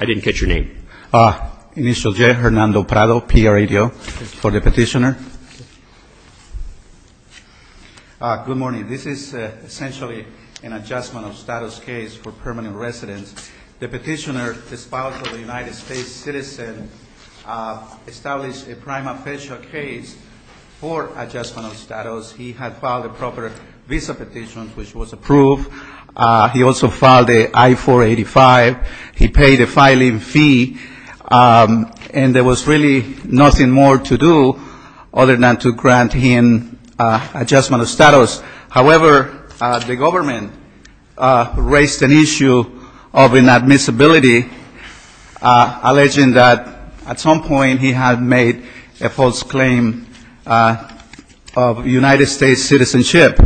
I didn't catch your name. Initial J, Hernando Prado, P.A. Radio, for the petitioner. Good morning. This is essentially an adjustment of status case for permanent residents. The petitioner, a United States citizen, established a prime official case for adjustment of status. He had filed a proper visa petition, which was approved. He also filed an I-485. He paid a filing fee. And there was really nothing more to do other than to grant him adjustment of status. However, the government raised an issue of inadmissibility, alleging that at some point he had made a false claim of United States citizenship.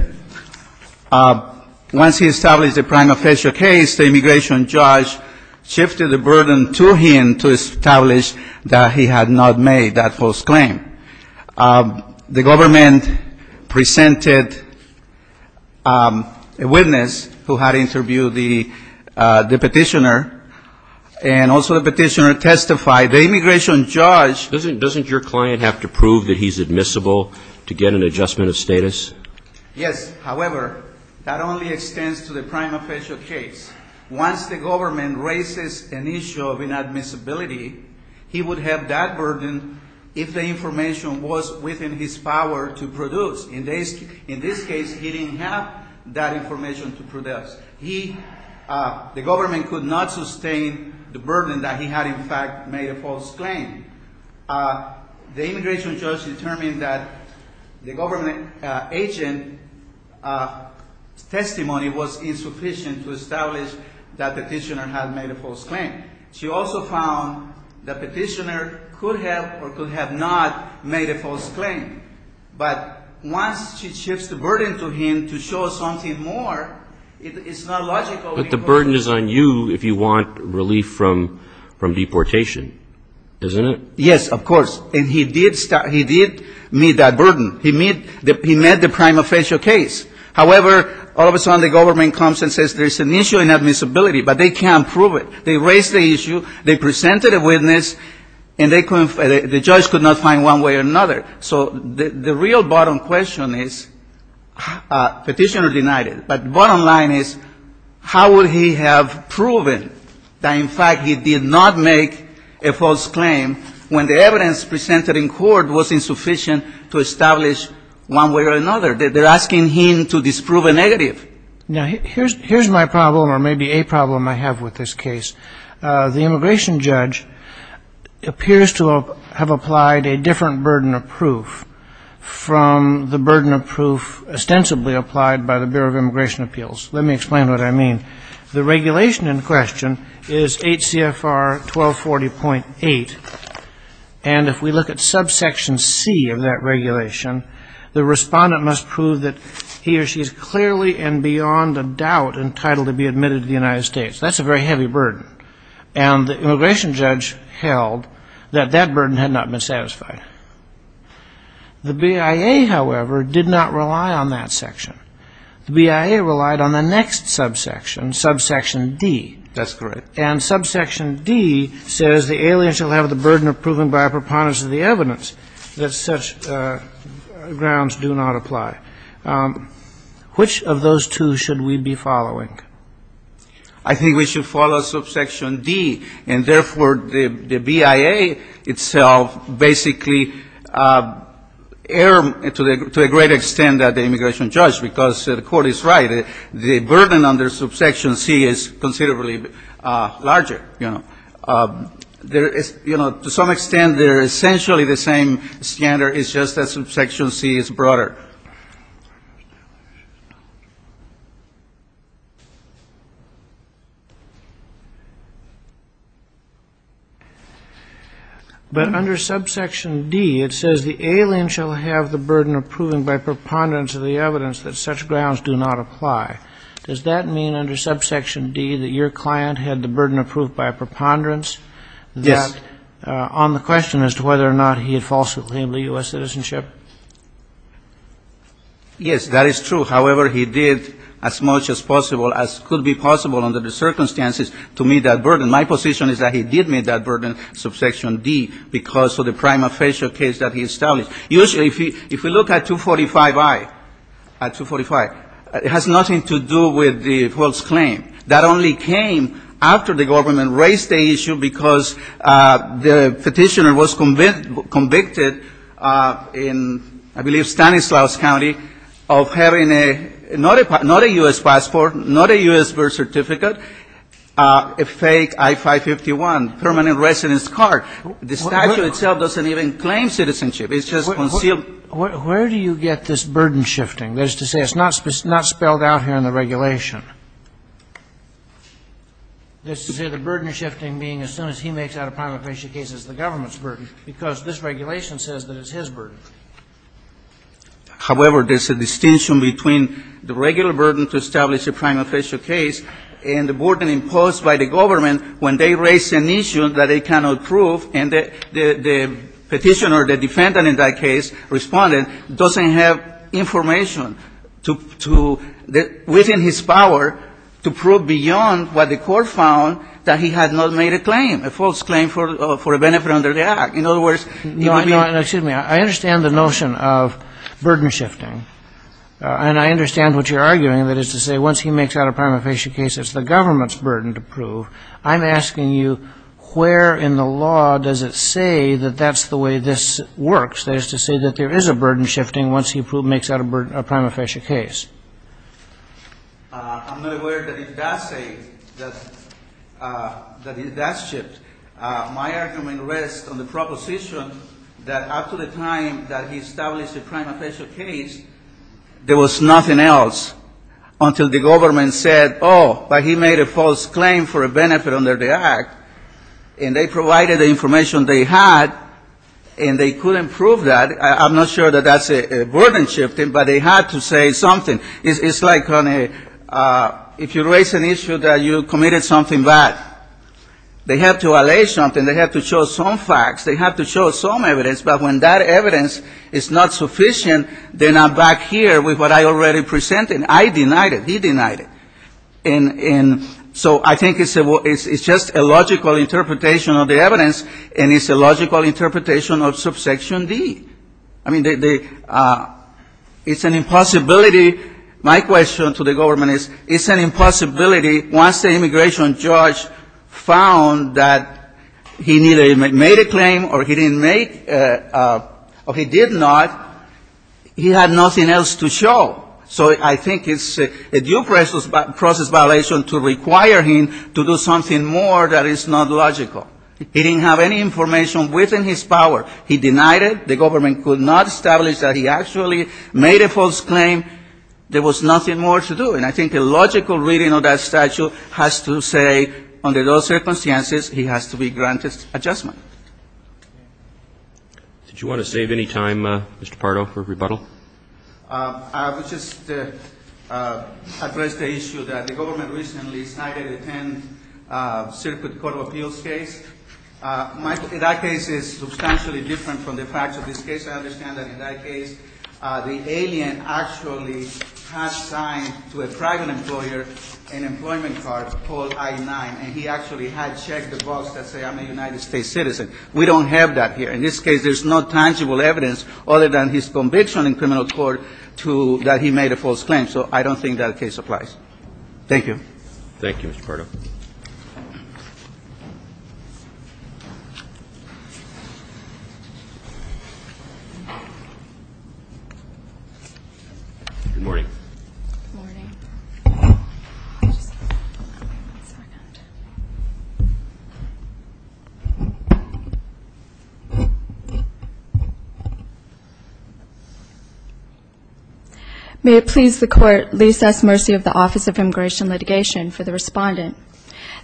Once he established a prime official case, the immigration judge shifted the burden to him to establish that he had not made that false claim. The government presented a witness who had interviewed the petitioner, and also the petitioner testified. The immigration judge ---- Doesn't your client have to prove that he's admissible to get an adjustment of status? Yes. However, that only extends to the prime official case. Once the government raises an issue of inadmissibility, he would have that burden if the information was within his power to produce. In this case, he didn't have that information to produce. The government could not sustain the burden that he had, in fact, made a false claim. The immigration judge determined that the government agent's testimony was insufficient to establish that the petitioner had made a false claim. She also found the petitioner could have or could have not made a false claim. But once she shifts the burden to him to show something more, it's not logical. But the burden is on you if you want relief from deportation, isn't it? Yes, of course. And he did meet that burden. He met the prime official case. However, all of a sudden the government comes and says there's an issue in admissibility, but they can't prove it. They raise the issue, they presented a witness, and the judge could not find one way or another. So the real bottom question is, petitioner denied it. But the bottom line is, how would he have proven that, in fact, he did not make a false claim when the evidence presented in court was insufficient to establish one way or another? They're asking him to disprove a negative. Now, here's my problem, or maybe a problem I have with this case. The immigration judge appears to have applied a different burden of proof from the burden of proof ostensibly applied by the Bureau of Immigration Appeals. Let me explain what I mean. The regulation in question is 8 CFR 1240.8, and if we look at subsection C of that regulation, the respondent must prove that he or she is clearly and beyond a doubt entitled to be admitted to the United States. That's a very heavy burden, and the immigration judge held that that burden had not been satisfied. The BIA, however, did not rely on that section. The BIA relied on the next subsection, subsection D. That's correct. And subsection D says the alien shall have the burden of proving by a preponderance of the evidence that such grounds do not apply. Which of those two should we be following? I think we should follow subsection D. And therefore, the BIA itself basically erred to a great extent at the immigration judge, because the Court is right. The burden under subsection C is considerably larger, you know. There is, you know, to some extent, they're essentially the same standard. It's just that subsection C is broader. But under subsection D, it says the alien shall have the burden of proving by a preponderance of the evidence that such grounds do not apply. Does that mean under subsection D that your client had the burden of proof by a preponderance? Yes. That, on the question as to whether or not he had falsely claimed a U.S. citizenship, Yes, that is true. However, he did, as much as possible, as could be possible under the circumstances, to meet that burden. My position is that he did meet that burden, subsection D, because of the prima facie case that he established. Usually, if you look at 245I, at 245, it has nothing to do with the false claim. That only came after the government raised the issue because the Petitioner was convicted in, I believe, Stanislaus County, of having not a U.S. passport, not a U.S. birth certificate, a fake I-551, permanent residence card. The statute itself doesn't even claim citizenship. It's just concealed. Where do you get this burden shifting? That is to say, it's not spelled out here in the regulation. That's to say, the burden shifting being as soon as he makes out a prima facie case is the government's burden, because this regulation says that it's his burden. However, there's a distinction between the regular burden to establish a prima facie case and the burden imposed by the government when they raise an issue that they cannot prove, and the Petitioner, the defendant in that case, respondent, doesn't have information to – within his power to prove beyond what the court found that he had not made a claim, a false claim for a benefit under the Act. In other words, you would be – No, no, excuse me. I understand the notion of burden shifting, and I understand what you're arguing, that is to say, once he makes out a prima facie case, it's the government's burden to prove. I'm asking you, where in the law does it say that that's the way this works? That is to say that there is a burden shifting once he makes out a prima facie case. I'm not aware that it does say that it does shift. My argument rests on the proposition that up to the time that he established a prima facie case, there was nothing else until the government said, oh, but he made a false claim for a benefit under the Act, and they provided the information they had, and they couldn't prove that. I'm not sure that that's a burden shifting, but they had to say something. It's like on a – if you raise an issue that you committed something bad, they have to allay something. They have to show some facts. They have to show some evidence, but when that evidence is not sufficient, then I'm back here with what I already presented. I denied it. He denied it. And so I think it's just a logical interpretation of the evidence, and it's a logical interpretation of subsection D. I mean, it's an impossibility. My question to the government is, it's an impossibility. Once the immigration judge found that he neither made a claim or he didn't make or he did not, he had nothing else to show. So I think it's a due process violation to require him to do something more that is not logical. He didn't have any information within his power. He denied it. The government could not establish that he actually made a false claim. There was nothing more to do. And I think a logical reading of that statute has to say under those circumstances he has to be granted adjustment. Did you want to save any time, Mr. Pardo, for rebuttal? I would just address the issue that the government recently cited a ten-circuit court of appeals case. That case is substantially different from the facts of this case. I understand that in that case the alien actually has signed to a private employer an employment card called I-9, and he actually had checked the box that said, I'm a United States citizen. We don't have that here. In this case there's no tangible evidence other than his conviction in criminal court that he made a false claim. So I don't think that case applies. Thank you. Thank you, Mr. Pardo. Good morning. May it please the Court, lease us mercy of the Office of Immigration Litigation for the respondent.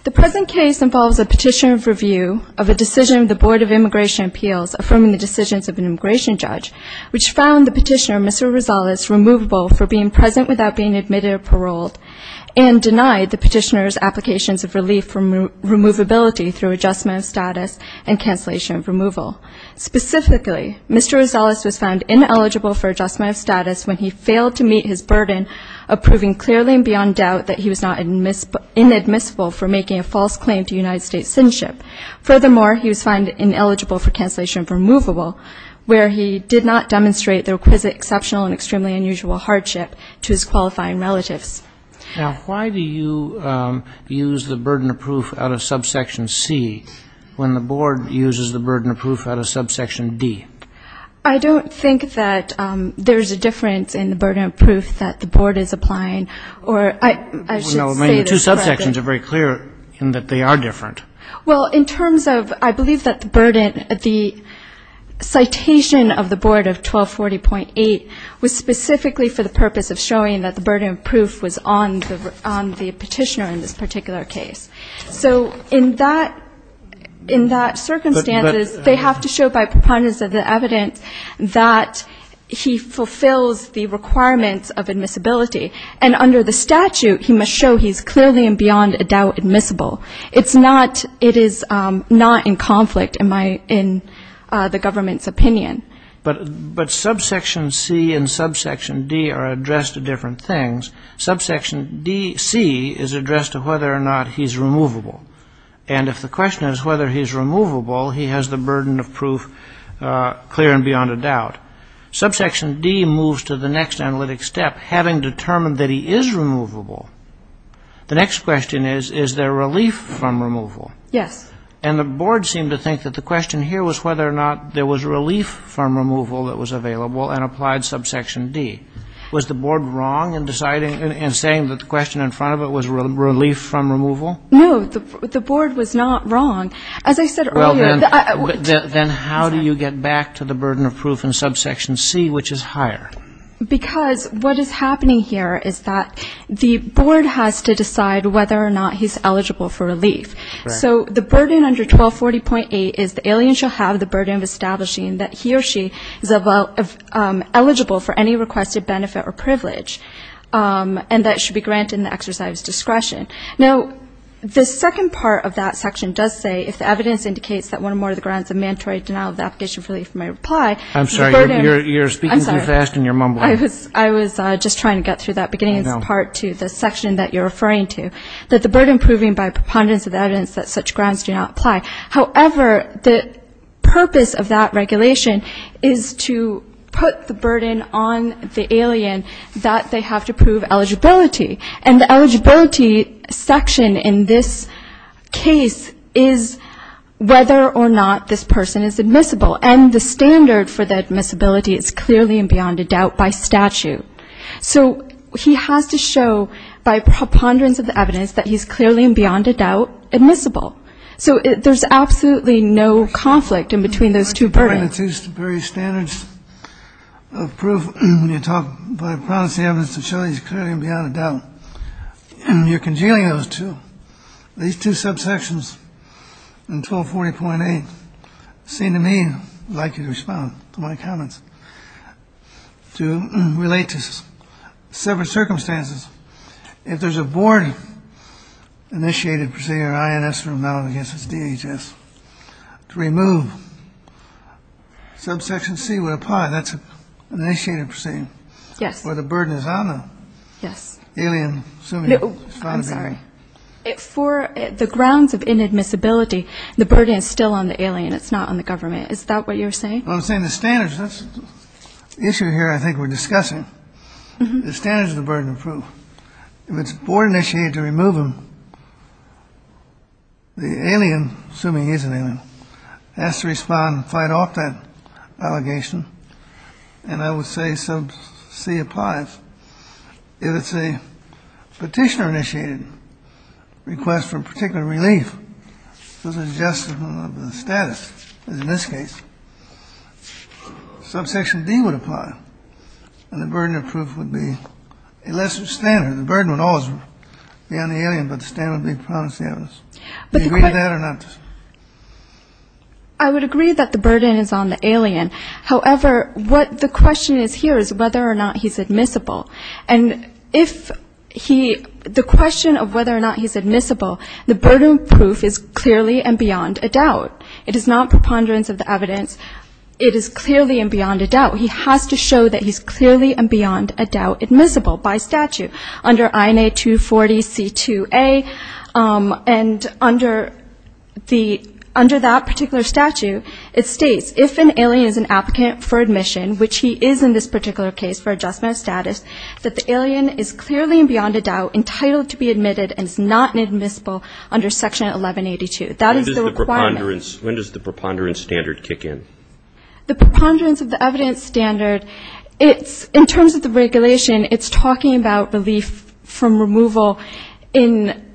The present case involves a petition of review of a decision of the Board of Immigration Appeals affirming the decisions of an immigration judge, which found the petitioner, Mr. Rosales, removable for being present without being admitted or paroled, and denied the petitioner's applications of relief from removability through adjustment of status and cancellation of removal. Specifically, Mr. Rosales was found ineligible for adjustment of status when he failed to meet his burden of proving clearly and beyond doubt that he was not inadmissible for making a false claim to United States citizenship. Furthermore, he was found ineligible for cancellation of removable, where he did not demonstrate the requisite exceptional and extremely unusual hardship to his qualifying relatives. Now, why do you use the burden of proof out of subsection C when the Board uses the burden of proof out of subsection D? I don't think that there's a difference in the burden of proof that the Board is applying, or I should say this correctly. No, I mean, the two subsections are very clear in that they are different. Well, in terms of I believe that the burden of the citation of the Board of 1240.8 was specifically for the purpose of showing that the burden of proof was on the petitioner in this particular case. So in that circumstance, they have to show by preponderance of the evidence that he fulfills the requirements of admissibility. And under the statute, he must show he's clearly and beyond a doubt admissible. It is not in conflict in the government's opinion. But subsection C and subsection D are addressed to different things. Subsection C is addressed to whether or not he's removable. And if the question is whether he's removable, he has the burden of proof clear and beyond a doubt. Subsection D moves to the next analytic step, having determined that he is removable. The next question is, is there relief from removal? Yes. And the Board seemed to think that the question here was whether or not there was relief from removal that was available and applied subsection D. Was the Board wrong in deciding and saying that the question in front of it was relief from removal? No, the Board was not wrong. As I said earlier. Then how do you get back to the burden of proof in subsection C, which is higher? Because what is happening here is that the Board has to decide whether or not he's eligible for relief. So the burden under 1240.8 is the alien shall have the burden of establishing that he or she is eligible for any requested benefit or privilege, and that should be granted in the exercise of discretion. Now, the second part of that section does say, if the evidence indicates that one or more of the grounds of mandatory denial of the application for relief may apply. I'm sorry. You're speaking too fast and you're mumbling. I was just trying to get through that beginning part to the section that you're referring to. That the burden proving by preponderance of evidence that such grounds do not apply. However, the purpose of that regulation is to put the burden on the alien that they have to prove eligibility. And the eligibility section in this case is whether or not this person is admissible. And the standard for the admissibility is clearly and beyond a doubt by statute. So he has to show by preponderance of the evidence that he's clearly and beyond a doubt admissible. So there's absolutely no conflict in between those two burdens. The two standards of proof when you talk by preponderance of evidence to show he's clearly and beyond a doubt. You're congealing those two. These two subsections in 1240.8 seem to me, I'd like you to respond to my comments, to relate to several circumstances. If there's a board-initiated proceeding or INS for a metal against its DHS, to remove subsection C would apply. That's an initiated proceeding. Yes. Where the burden is on the alien. I'm sorry. For the grounds of inadmissibility, the burden is still on the alien. It's not on the government. Is that what you're saying? I'm saying the standards. That's the issue here I think we're discussing. The standards of the burden of proof. If it's board-initiated to remove him, the alien, assuming he's an alien, has to respond and fight off that allegation. And I would say sub C applies. If it's a petitioner-initiated request for particular relief, this is just the status in this case. Subsection D would apply. And the burden of proof would be a lesser standard. The burden would always be on the alien, but the standard would be promise the evidence. Do you agree with that or not? I would agree that the burden is on the alien. However, what the question is here is whether or not he's admissible. And if he the question of whether or not he's admissible, the burden of proof is clearly and beyond a doubt. It is not preponderance of the evidence. It is clearly and beyond a doubt. He has to show that he's clearly and beyond a doubt admissible by statute under INA 240C2A. And under that particular statute, it states if an alien is an applicant for admission, which he is in this particular case for adjustment of status, that the alien is clearly and beyond a doubt entitled to be admitted and is not admissible under Section 1182. That is the requirement. When does the preponderance standard kick in? The preponderance of the evidence standard, in terms of the regulation, it's talking about relief from removal in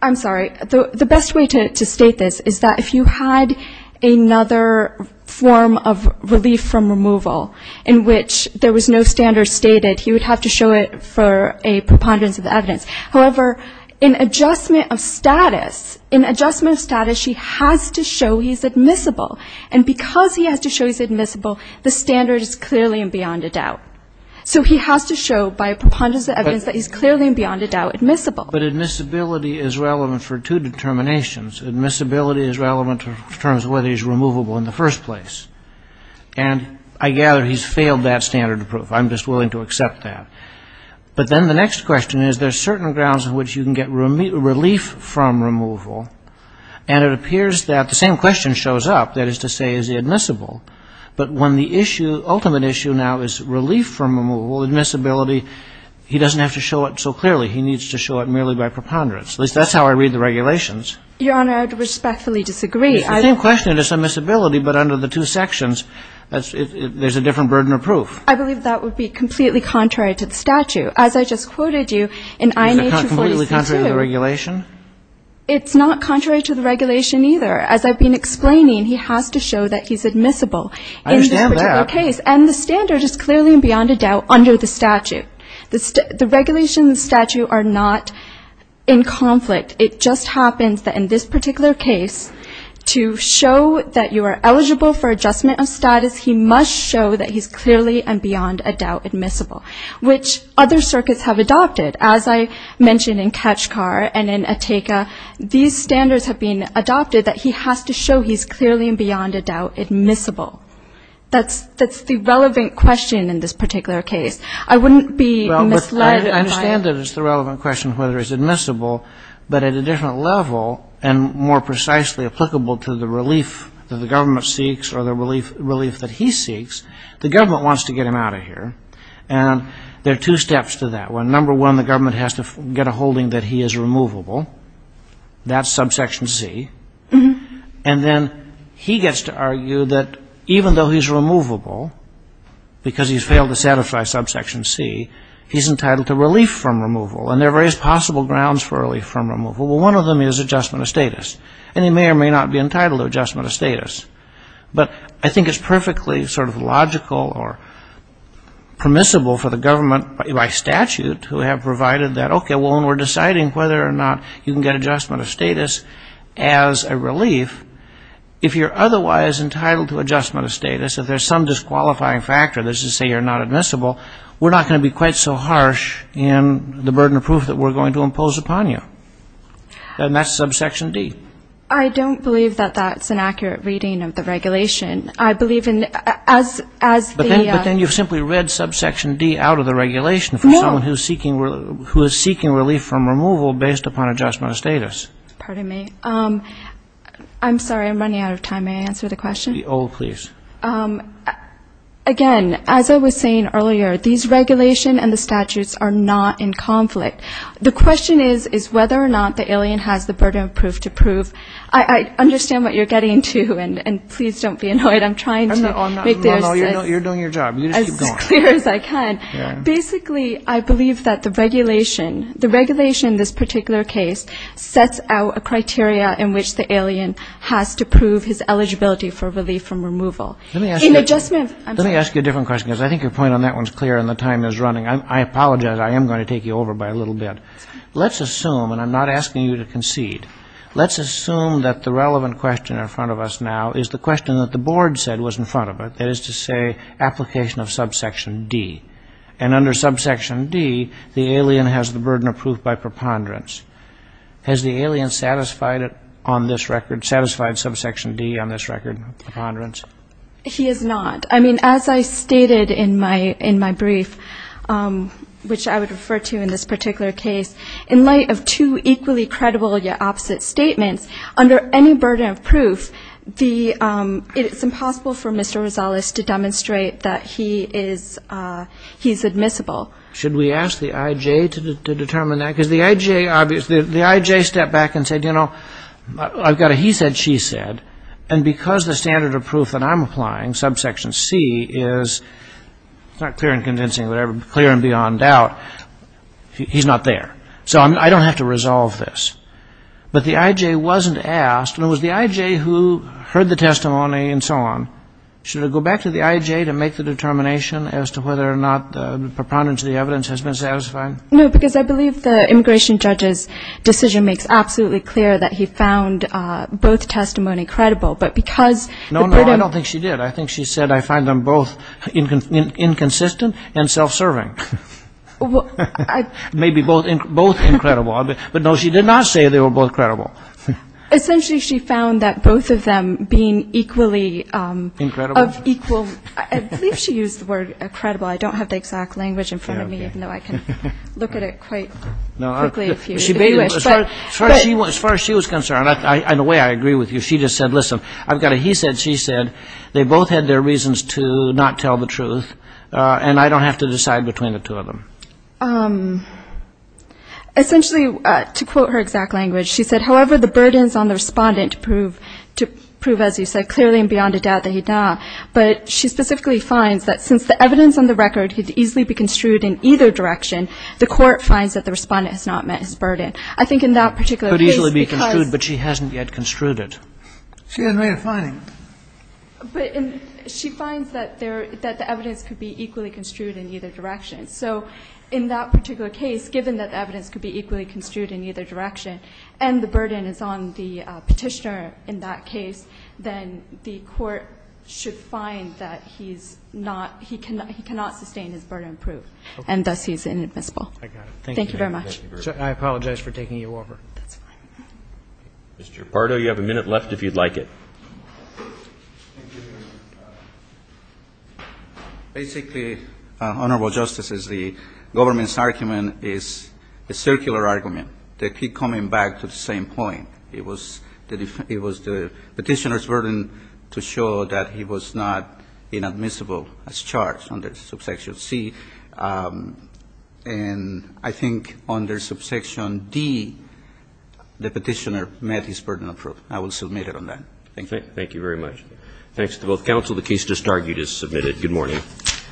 the best way to state this is that if you had another form of relief from removal in which there was no standard stated, he would have to show it for a preponderance of the evidence. However, in adjustment of status, in adjustment of status, he has to show he's admissible. And because he has to show he's admissible, the standard is clearly and beyond a doubt. So he has to show by a preponderance of evidence that he's clearly and beyond a doubt admissible. But admissibility is relevant for two determinations. Admissibility is relevant in terms of whether he's removable in the first place. And I gather he's failed that standard of proof. I'm just willing to accept that. But then the next question is there's certain grounds in which you can get relief from removal. And it appears that the same question shows up, that is to say, is he admissible? But when the issue, ultimate issue now is relief from removal, admissibility, he doesn't have to show it so clearly. He needs to show it merely by preponderance. At least that's how I read the regulations. Your Honor, I would respectfully disagree. It's the same question. It's admissibility. But under the two sections, there's a different burden of proof. I believe that would be completely contrary to the statute. As I just quoted you in INHR 42. Completely contrary to the regulation? It's not contrary to the regulation either. As I've been explaining, he has to show that he's admissible. I understand that. In this particular case. And the standard is clearly and beyond a doubt under the statute. The regulation and the statute are not in conflict. It just happens that in this particular case, to show that you are eligible for adjustment of status, he must show that he's clearly and beyond a doubt admissible, which other circuits have adopted. As I mentioned in Kachkar and in Atteca, these standards have been adopted that he has to show he's clearly and beyond a doubt admissible. That's the relevant question in this particular case. I wouldn't be misled. Well, I understand that it's the relevant question whether he's admissible, but at a different level and more precisely applicable to the relief that the government seeks or the relief that he seeks, the government wants to get him out of here. And there are two steps to that. Number one, the government has to get a holding that he is removable. That's subsection C. And then he gets to argue that even though he's removable, because he's failed to satisfy subsection C, he's entitled to relief from removal. And there are various possible grounds for relief from removal. Well, one of them is adjustment of status. And he may or may not be entitled to adjustment of status. But I think it's perfectly sort of logical or permissible for the government by statute to have provided that, okay, when we're deciding whether or not you can get adjustment of status as a relief, if you're otherwise entitled to adjustment of status, if there's some disqualifying factor, let's just say you're not admissible, we're not going to be quite so harsh in the burden of proof that we're going to impose upon you. And that's subsection D. I don't believe that that's an accurate reading of the regulation. I believe as the ‑‑ But then you've simply read subsection D out of the regulation for someone who is seeking relief from removal based upon adjustment of status. Pardon me. I'm sorry. I'm running out of time. May I answer the question? The O, please. Again, as I was saying earlier, these regulations and the statutes are not in conflict. The question is, is whether or not the alien has the burden of proof to prove. I understand what you're getting to, and please don't be annoyed. I'm trying to make this as clear as I can. No, no, you're doing your job. You just keep going. Basically, I believe that the regulation, the regulation in this particular case, sets out a criteria in which the alien has to prove his eligibility for relief from removal. In adjustment of ‑‑ Let me ask you a different question, because I think your point on that one is clear and the time is running. I apologize. I am going to take you over by a little bit. Let's assume, and I'm not asking you to concede, let's assume that the relevant question in front of us now is the question that the board said was in front of it, that is to say application of subsection D. And under subsection D, the alien has the burden of proof by preponderance. Has the alien satisfied it on this record, satisfied subsection D on this record, preponderance? He has not. I mean, as I stated in my brief, which I would refer to in this particular case, in light of two equally credible yet opposite statements, under any burden of proof, it is impossible for Mr. Rosales to demonstrate that he is admissible. Should we ask the I.J. to determine that? Because the I.J. obviously, the I.J. stepped back and said, you know, I've got a he said, she said. And because the standard of proof that I'm applying, subsection C, is not clear and convincing or whatever, clear and beyond doubt, he's not there. So I don't have to resolve this. But the I.J. wasn't asked, and it was the I.J. who heard the testimony and so on. Should it go back to the I.J. to make the determination as to whether or not the preponderance of the evidence has been satisfied? No, because I believe the immigration judge's decision makes absolutely clear that he found both testimony credible. No, no, I don't think she did. I think she said, I find them both inconsistent and self-serving. Maybe both incredible. But, no, she did not say they were both credible. Essentially, she found that both of them being equally of equal. I believe she used the word incredible. I don't have the exact language in front of me, even though I can look at it quite quickly if you wish. But as far as she was concerned, in a way I agree with you, she just said, listen, I've got a he said, she said. They both had their reasons to not tell the truth, and I don't have to decide between the two of them. Essentially, to quote her exact language, she said, however, the burdens on the respondent to prove, as you said, clearly and beyond a doubt that he'd not. But she specifically finds that since the evidence on the record could easily be construed in either direction, the court finds that the respondent has not met his burden. I think in that particular case, because ---- Kagan. It could easily be construed, but she hasn't yet construed it. She hasn't made a finding. But she finds that the evidence could be equally construed in either direction. So in that particular case, given that the evidence could be equally construed in either direction and the burden is on the Petitioner in that case, then the court should find that he's not, he cannot sustain his burden of proof. And thus, he's inadmissible. I got it. Thank you very much. I apologize for taking you over. That's fine. Mr. Pardo, you have a minute left if you'd like it. Basically, Honorable Justice, the government's argument is a circular argument. They keep coming back to the same point. It was the Petitioner's burden to show that he was not inadmissible as charged on the subsection C. And I think on their subsection D, the Petitioner met his burden of proof. I will submit it on that. Thank you. Thank you very much. Thanks to both counsel. The case just argued is submitted. Good morning.